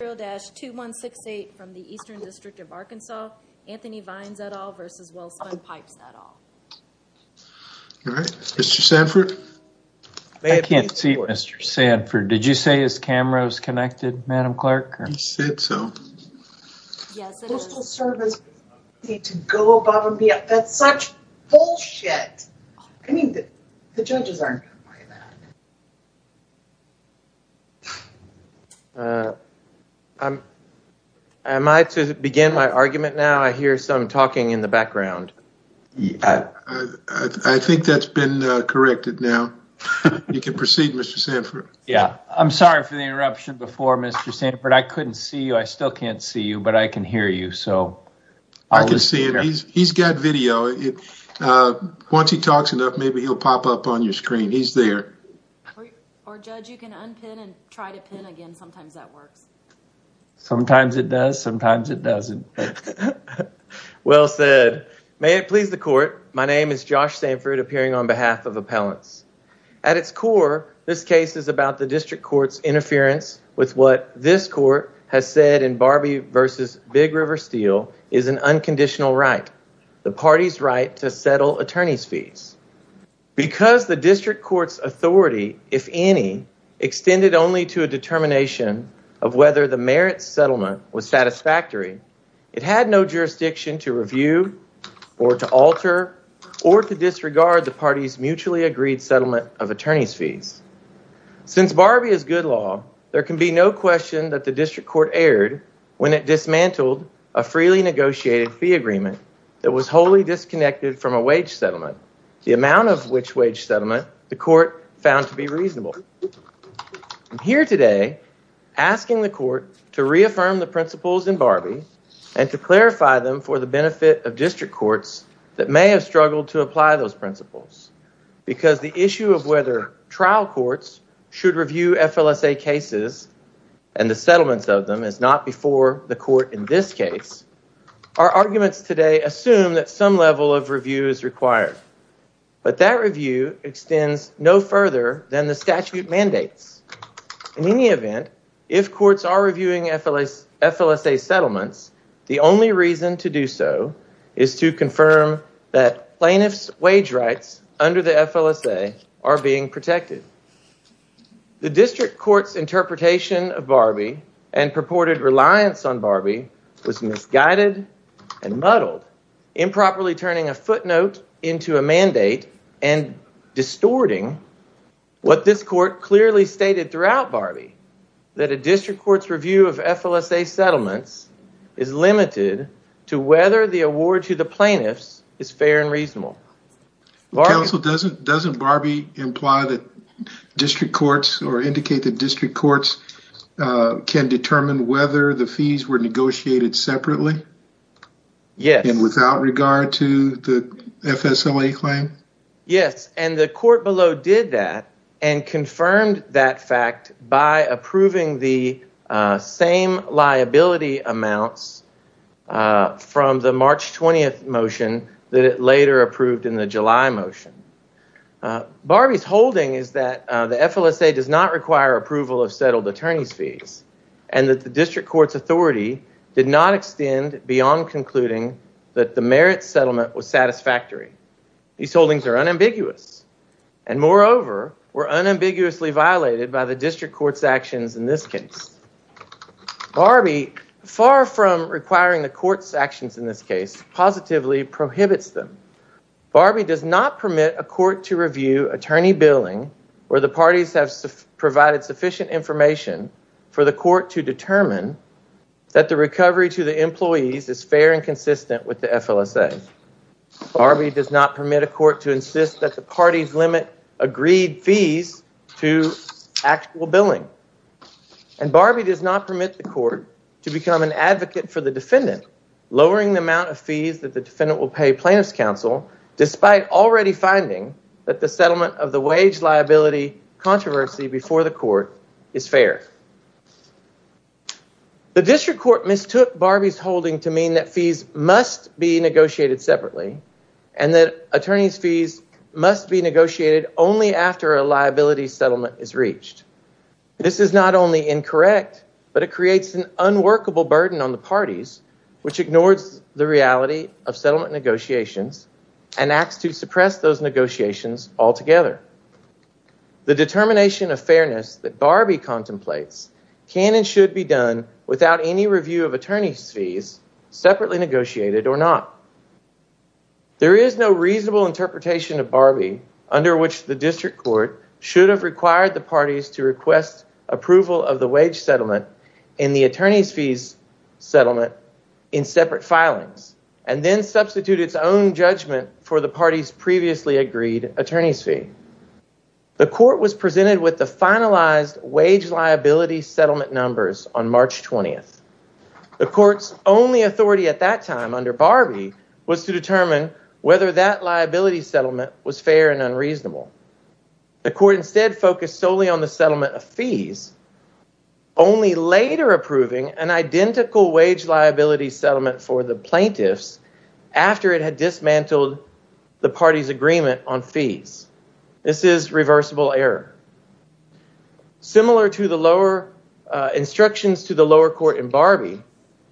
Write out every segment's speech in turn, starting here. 0-2168 from the Eastern District of Arkansas, Anthony Vines et al. v. Welspun Pipes et al. All right. Mr. Sanford? I can't see Mr. Sanford. Did you say his camera was connected, Madam Clerk? He said so. Yes, it is. Postal service need to go above and beyond. That's such bullshit. I mean, the judges aren't going to buy that. Am I to begin my argument now? I hear some talking in the background. I think that's been corrected now. You can proceed, Mr. Sanford. Yeah, I'm sorry for the interruption before, Mr. Sanford. I couldn't see you. I still can't see you, but I can hear you. I can see him. He's got video. Once he talks enough, maybe he'll pop up on your screen. He's there. Or, Judge, you can unpin and try to pin again. Sometimes that works. Sometimes it does. Sometimes it doesn't. Well said. May it please the court, my name is Josh Sanford, appearing on behalf of appellants. At its core, this case is about the district court's interference with what this court has said in Barbie vs. Big River Steel is an unconditional right, the party's right to settle attorney's fees. Because the district court's authority, if any, extended only to a determination of whether the merits settlement was satisfactory. It had no jurisdiction to review or to alter or to disregard the party's mutually agreed settlement of attorney's fees. Since Barbie is good law, there can be no question that the district court erred when it dismantled a freely negotiated fee agreement that was wholly disconnected from a wage settlement, the amount of which wage settlement the court found to be reasonable. I'm here today asking the court to reaffirm the principles in Barbie and to clarify them for the benefit of district courts that may have struggled to apply those principles. Because the issue of whether trial courts should review FLSA cases and the settlements of them is not before the court in this case, our arguments today assume that some level of review is required. But that review extends no further than the statute mandates. In any event, if courts are reviewing FLSA settlements, the only reason to do so is to confirm that plaintiff's wage rights under the FLSA are being protected. The district court's interpretation of Barbie and purported reliance on Barbie was misguided and muddled, improperly turning a footnote into a mandate and distorting what this court clearly stated throughout Barbie, that a district court's review of FLSA settlements is limited to whether the award to the plaintiffs is fair and reasonable. Counsel, doesn't Barbie imply that district courts or indicate that district courts can determine whether the fees were negotiated separately? Yes. And without regard to the FSLA claim? Yes. And the court below did that and confirmed that fact by approving the same liability amounts from the March 20th motion that it later approved in the July motion. Barbie's holding is that the FLSA does not require approval of settled attorney's fees and that the district court's authority did not extend beyond concluding that the merit settlement was satisfactory. These holdings are unambiguous and, moreover, were unambiguously violated by the district court's actions in this case. Barbie, far from requiring the court's actions in this case, positively prohibits them. Barbie does not permit a court to review attorney billing where the parties have provided sufficient information for the court to determine that the recovery to the employees is fair and consistent with the FLSA. Barbie does not permit a court to insist that the parties limit agreed fees to actual billing. And Barbie does not permit the court to become an advocate for the defendant, lowering the amount of fees that the defendant will pay plaintiff's counsel, despite already finding that the settlement of the wage liability controversy before the court is fair. The district court mistook Barbie's holding to mean that fees must be negotiated separately and that attorney's fees must be negotiated only after a liability settlement is reached. This is not only incorrect, but it creates an unworkable burden on the parties, which ignores the reality of settlement negotiations and acts to suppress those negotiations altogether. The determination of fairness that Barbie contemplates can and should be done without any review of attorney's fees, separately negotiated or not. There is no reasonable interpretation of Barbie under which the district court should have required the parties to request approval of the wage settlement in the attorney's fees settlement in separate filings, and then substitute its own judgment for the parties previously agreed attorney's fee. The court was presented with the finalized wage liability settlement numbers on March 20th. The court's only authority at that time under Barbie was to determine whether that liability settlement was fair and unreasonable. The court instead focused solely on the settlement of fees, only later approving an identical wage liability settlement for the plaintiffs after it had dismantled the parties agreement on fees. This is reversible error. Similar to the lower instructions to the lower court in Barbie,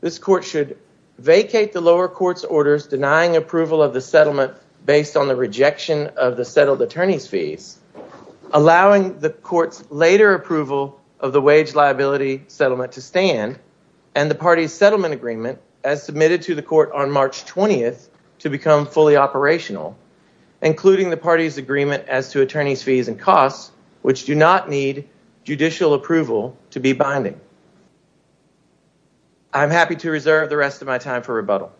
this court should vacate the lower court's orders denying approval of the settlement based on the rejection of the settled attorney's fees, allowing the court's later approval of the wage liability settlement to stand and the parties settlement agreement as submitted to the court on March 20th to become fully operational, including the parties agreement as to attorney's fees and costs, which do not need judicial approval to be binding. I'm happy to reserve the rest of my time for rebuttal.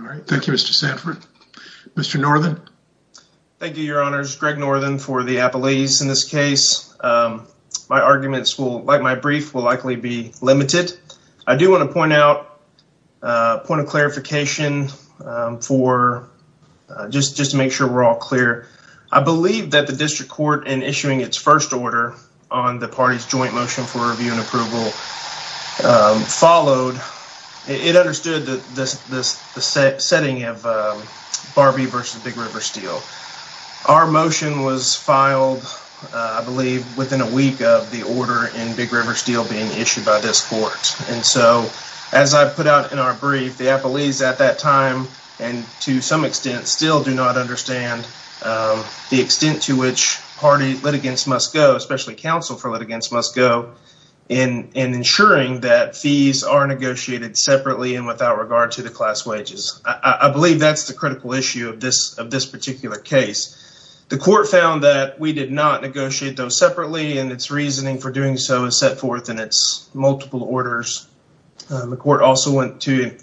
All right. Thank you, Mr. Sanford. Mr. Northern. Thank you, your honors. Greg Northern for the appellees in this case. My arguments will like my brief will likely be limited. I do want to point out a point of clarification for just just to make sure we're all clear. I believe that the district court in issuing its first order on the party's joint motion for review and approval followed. It understood that this setting of Barbie versus Big River Steel. Our motion was filed, I believe, within a week of the order in Big River Steel being issued by this court. And so as I put out in our brief, the appellees at that time and to some extent still do not understand the extent to which party litigants must go, especially counsel for litigants must go in and ensuring that fees are negotiated separately and without regard to the class wages. I believe that's the critical issue of this of this particular case. The court found that we did not negotiate those separately and its reasoning for doing so is set forth in its multiple orders. The court also went to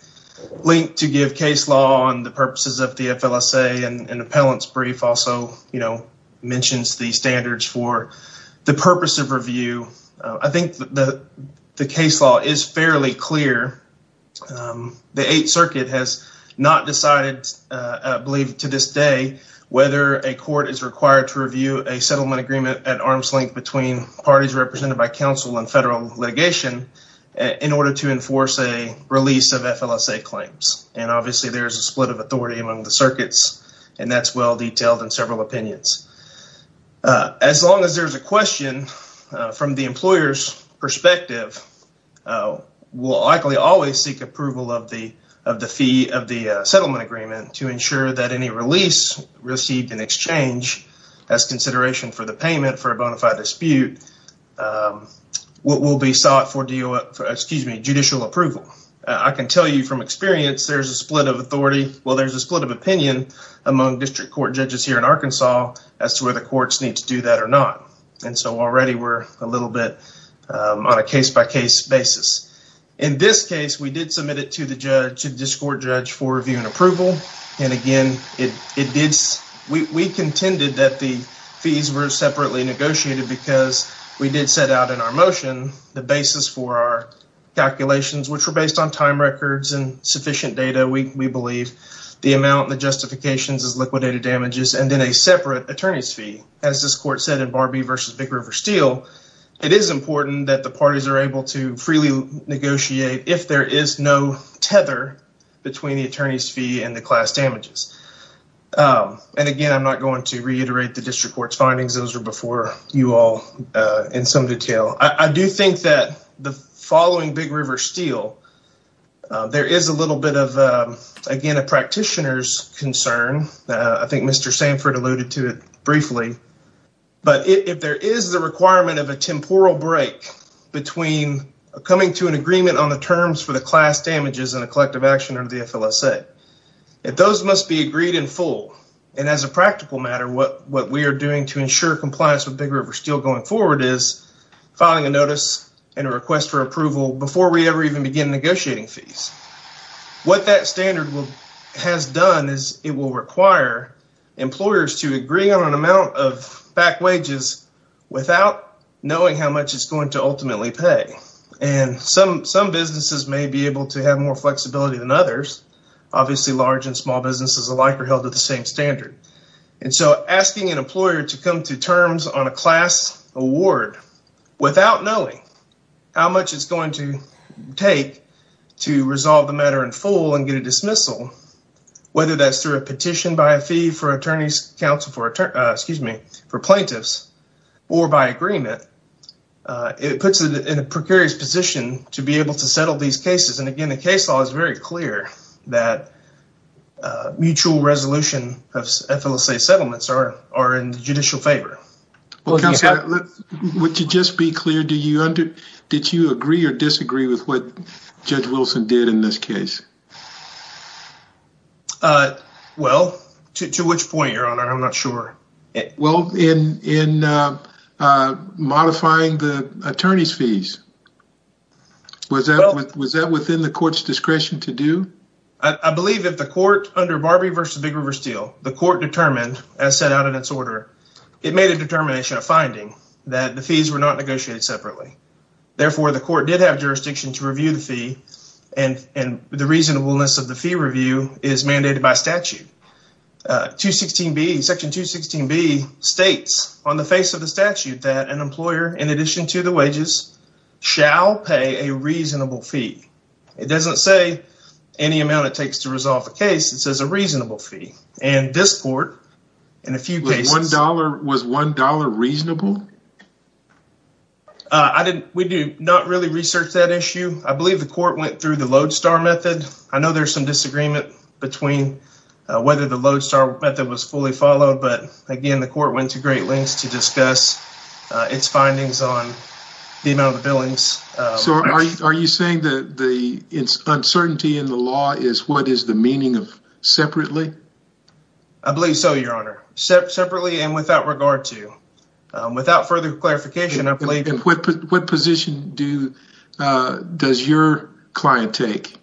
link to give case law on the purposes of the FLSA. And an appellant's brief also mentions the standards for the purpose of review. I think the case law is fairly clear. The Eighth Circuit has not decided, I believe to this day, whether a court is required to review a settlement agreement at arm's length between parties represented by counsel and federal litigation in order to enforce a release of FLSA claims. And obviously, there is a split of authority among the circuits, and that's well detailed in several opinions. As long as there's a question from the employer's perspective, we'll likely always seek approval of the of the fee of the settlement agreement to ensure that any release received in exchange as consideration for the payment for a bona fide dispute will be sought for judicial approval. I can tell you from experience there's a split of authority. Well, there's a split of opinion among district court judges here in Arkansas as to whether courts need to do that or not. And so already we're a little bit on a case by case basis. In this case, we did submit it to the judge, to the district court judge for review and approval. And again, we contended that the fees were separately negotiated because we did set out in our motion the basis for our calculations, which were based on time records and sufficient data. We believe the amount and the justifications is liquidated damages and then a separate attorney's fee. As this court said in Barbie versus Big River Steel, it is important that the parties are able to freely negotiate if there is no tether between the attorney's fee and the class damages. And again, I'm not going to reiterate the district court's findings. Those were before you all in some detail. I do think that the following Big River Steel, there is a little bit of, again, a practitioner's concern. I think Mr. Sanford alluded to it briefly. But if there is the requirement of a temporal break between coming to an agreement on the terms for the class damages and a collective action or the FLSA, those must be agreed in full. And as a practical matter, what we are doing to ensure compliance with Big River Steel going forward is filing a notice and a request for approval before we ever even begin negotiating fees. What that standard has done is it will require employers to agree on an amount of back wages without knowing how much it's going to ultimately pay. And some businesses may be able to have more flexibility than others. Obviously, large and small businesses alike are held to the same standard. And so asking an employer to come to terms on a class award without knowing how much it's going to take to resolve the matter in full and get a dismissal, whether that's through a petition by a fee for attorneys counsel for, excuse me, for plaintiffs or by agreement. It puts it in a precarious position to be able to settle these cases. And again, the case law is very clear that mutual resolution of FLSA settlements are in the judicial favor. Well, Counselor, would you just be clear? Did you agree or disagree with what Judge Wilson did in this case? Well, to which point, Your Honor? I'm not sure. Well, in modifying the attorney's fees, was that within the court's discretion to do? I believe that the court under Barbie versus Big River Steel, the court determined, as set out in its order, it made a determination of finding that the fees were not negotiated separately. Therefore, the court did have jurisdiction to review the fee. And the reasonableness of the fee review is mandated by statute. Section 216B states on the face of the statute that an employer, in addition to the wages, shall pay a reasonable fee. It doesn't say any amount it takes to resolve the case. It says a reasonable fee. And this court, in a few cases. Was $1 reasonable? We do not really research that issue. I believe the court went through the lodestar method. I know there's some disagreement between whether the lodestar method was fully followed. But, again, the court went to great lengths to discuss its findings on the amount of the billings. So, are you saying that the uncertainty in the law is what is the meaning of separately? I believe so, Your Honor. Separately and without regard to. Without further clarification, I believe. What position does your client take?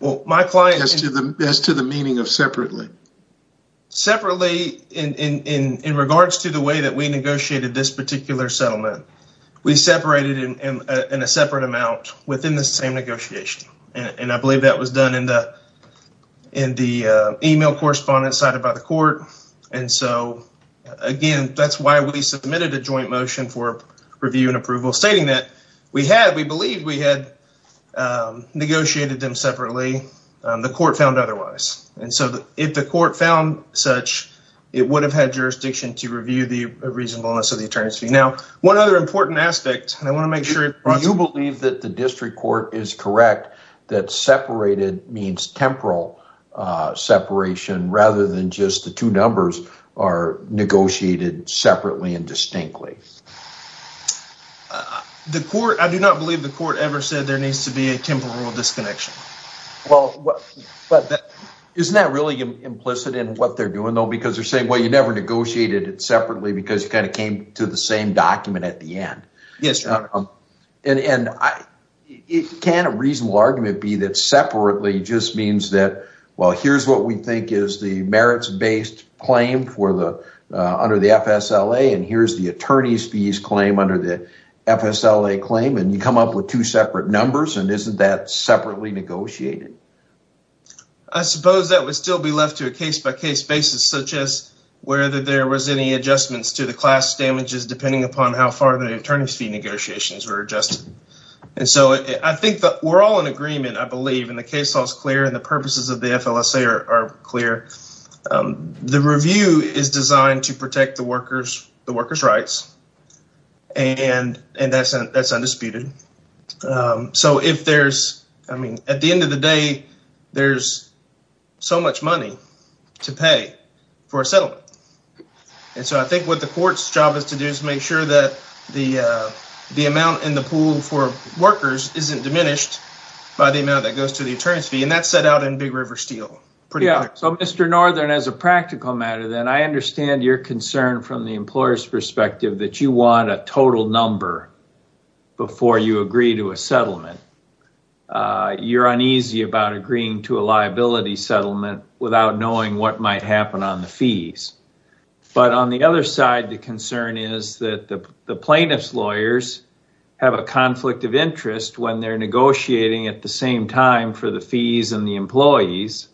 Well, my client. As to the meaning of separately. Separately in regards to the way that we negotiated this particular settlement. We separated in a separate amount within the same negotiation. And I believe that was done in the email correspondence cited by the court. And so, again, that's why we submitted a joint motion for review and approval. Stating that we had. We believe we had negotiated them separately. The court found otherwise. And so, if the court found such. It would have had jurisdiction to review the reasonableness of the attorneys fee. Now, one other important aspect. And I want to make sure. You believe that the district court is correct. That separated means temporal separation. Rather than just the two numbers are negotiated separately and distinctly. The court. I do not believe the court ever said there needs to be a temporal disconnection. Well. Isn't that really implicit in what they're doing, though? Because they're saying, well, you never negotiated it separately. Because you kind of came to the same document at the end. Yes, Your Honor. And it can a reasonable argument be that separately just means that. Well, here's what we think is the merits based claim for the. Under the FSLA. And here's the attorney's fees claim under the FSLA claim. And you come up with two separate numbers. And isn't that separately negotiated? I suppose that would still be left to a case by case basis. Such as whether there was any adjustments to the class damages. Depending upon how far the attorney's fee negotiations were adjusted. And so, I think that we're all in agreement. I believe in the case. All is clear and the purposes of the FLSA are clear. The review is designed to protect the workers' rights. And that's undisputed. So, if there's – I mean, at the end of the day, there's so much money to pay for a settlement. And so, I think what the court's job is to do is make sure that the amount in the pool for workers isn't diminished by the amount that goes to the attorney's fee. And that's set out in Big River Steel. So, Mr. Northern, as a practical matter, I understand your concern from the employer's perspective that you want a total number before you agree to a settlement. You're uneasy about agreeing to a liability settlement without knowing what might happen on the fees. But on the other side, the concern is that the plaintiff's lawyers have a conflict of interest when they're negotiating at the same time for the fees and the employees.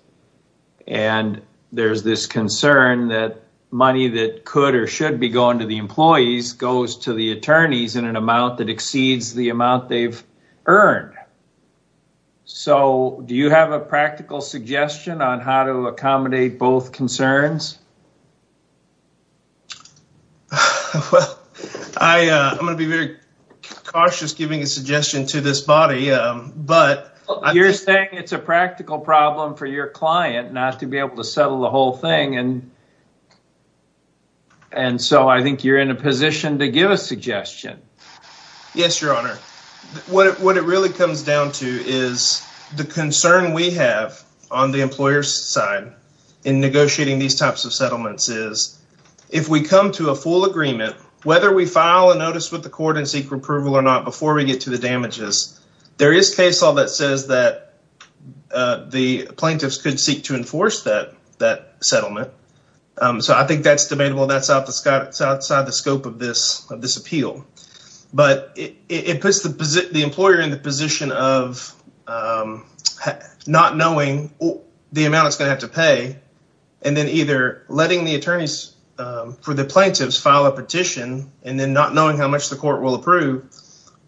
And there's this concern that money that could or should be going to the employees goes to the attorneys in an amount that exceeds the amount they've earned. So, do you have a practical suggestion on how to accommodate both concerns? Well, I'm going to be very cautious giving a suggestion to this body. You're saying it's a practical problem for your client not to be able to settle the whole thing. And so, I think you're in a position to give a suggestion. Yes, Your Honor. What it really comes down to is the concern we have on the employer's side in negotiating these types of settlements is if we come to a full agreement, whether we file a notice with the court and seek approval or not before we get to the damages, there is case law that says that the plaintiffs could seek to enforce that settlement. So, I think that's debatable. That's outside the scope of this appeal. But it puts the employer in the position of not knowing the amount it's going to have to pay and then either letting the attorneys for the plaintiffs file a petition and then not knowing how much the court will approve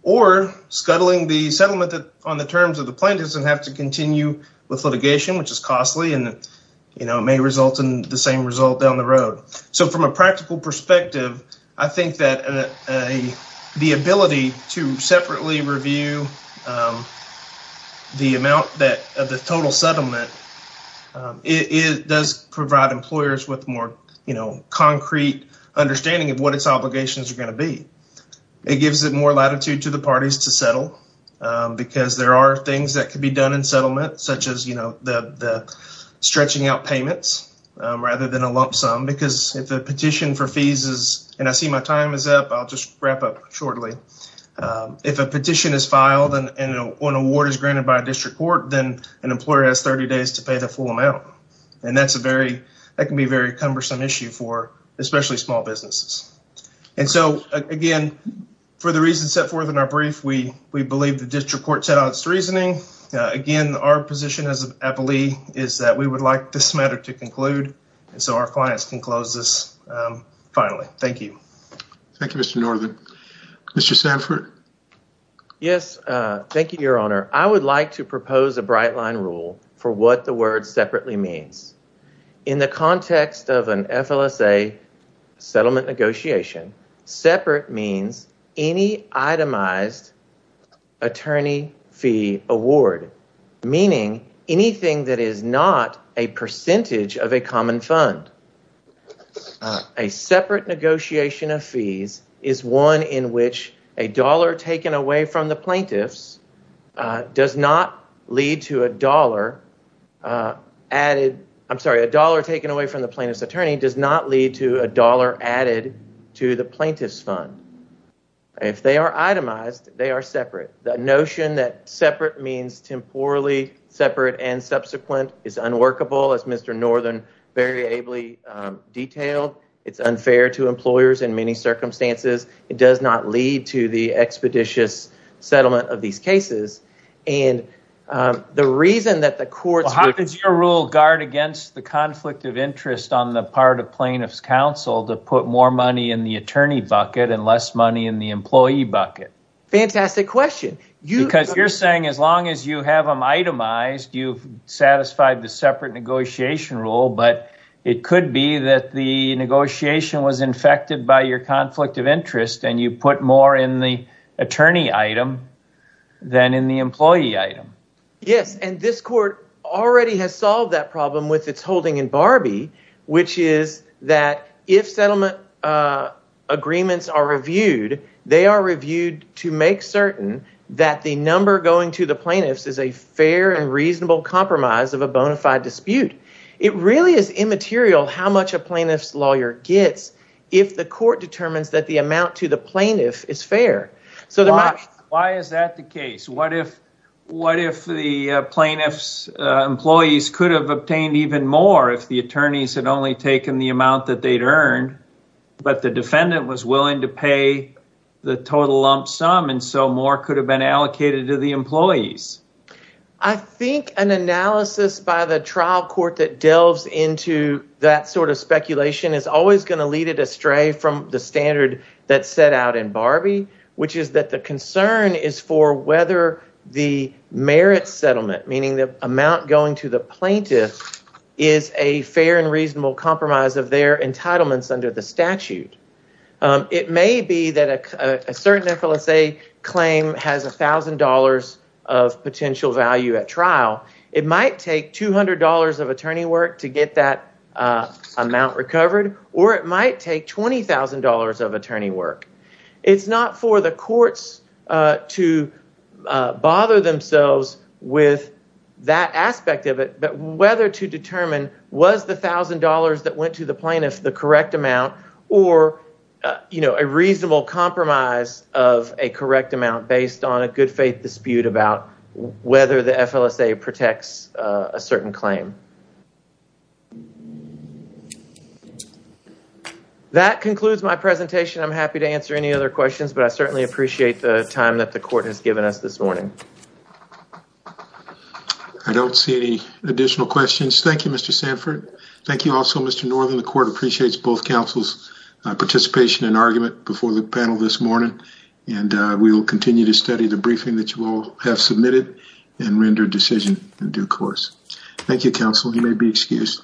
or scuttling the settlement on the terms of the plaintiffs and have to continue with litigation, which is costly and may result in the same result down the road. So, from a practical perspective, I think that the ability to separately review the amount of the total settlement does provide employers with more concrete understanding of what its obligations are going to be. It gives it more latitude to the parties to settle because there are things that could be done in settlement such as, you know, the stretching out payments rather than a lump sum because if the petition for fees is, and I see my time is up, I'll just wrap up shortly. If a petition is filed and an award is granted by a district court, then an employer has 30 days to pay the full amount. And that's a very, that can be a very cumbersome issue for especially small businesses. And so, again, for the reasons set forth in our brief, we believe the district court set out its reasoning. Again, our position as an appellee is that we would like this matter to conclude. And so our clients can close this finally. Thank you. Thank you, Mr. Northern. Mr. Sanford. Yes. Thank you, Your Honor. I would like to propose a bright line rule for what the word separately means. In the context of an FLSA settlement negotiation, separate means any itemized attorney fee award, meaning anything that is not a percentage of a common fund. A separate negotiation of fees is one in which a dollar taken away from the plaintiff's does not lead to a dollar added, I'm sorry, a dollar taken away from the plaintiff's attorney does not lead to a dollar added to the plaintiff's fund. If they are itemized, they are separate. The notion that separate means temporally separate and subsequent is unworkable, as Mr. Northern very ably detailed. It's unfair to employers in many circumstances. It does not lead to the expeditious settlement of these cases. And the reason that the courts would… Well, how does your rule guard against the conflict of interest on the part of plaintiff's counsel to put more money in the attorney bucket and less money in the employee bucket? Fantastic question. Because you're saying as long as you have them itemized, you've satisfied the separate negotiation rule, but it could be that the negotiation was infected by your conflict of interest and you put more in the attorney item than in the employee item. Yes, and this court already has solved that problem with its holding in Barbie, which is that if settlement agreements are reviewed, they are reviewed to make certain that the number going to the plaintiffs is a fair and reasonable compromise of a bona fide dispute. It really is immaterial how much a plaintiff's lawyer gets if the court determines that the amount to the plaintiff is fair. Why is that the case? What if the plaintiff's employees could have obtained even more if the attorneys had only taken the amount that they'd earned, but the defendant was willing to pay the total lump sum and so more could have been allocated to the employees? I think an analysis by the trial court that delves into that sort of speculation is always going to lead it astray from the standard that's set out in Barbie, which is that the concern is for whether the merit settlement, meaning the amount going to the plaintiff, is a fair and reasonable compromise of their entitlements under the statute. It may be that a certain FLSA claim has $1,000 of potential value at trial. It might take $200 of attorney work to get that amount recovered, or it might take $20,000 of attorney work. It's not for the courts to bother themselves with that aspect of it, but whether to determine was the $1,000 that went to the plaintiff the correct amount or a reasonable compromise of a correct amount based on a good faith dispute about whether the FLSA protects a certain claim. That concludes my presentation. I'm happy to answer any other questions, but I certainly appreciate the time that the court has given us this morning. I don't see any additional questions. Thank you, Mr. Sanford. Thank you. Also, Mr. Northern. The court appreciates both councils participation in argument before the panel this morning, and we will continue to study the briefing that you all have submitted and render decision in due course. Thank you. Counsel, you may be excused.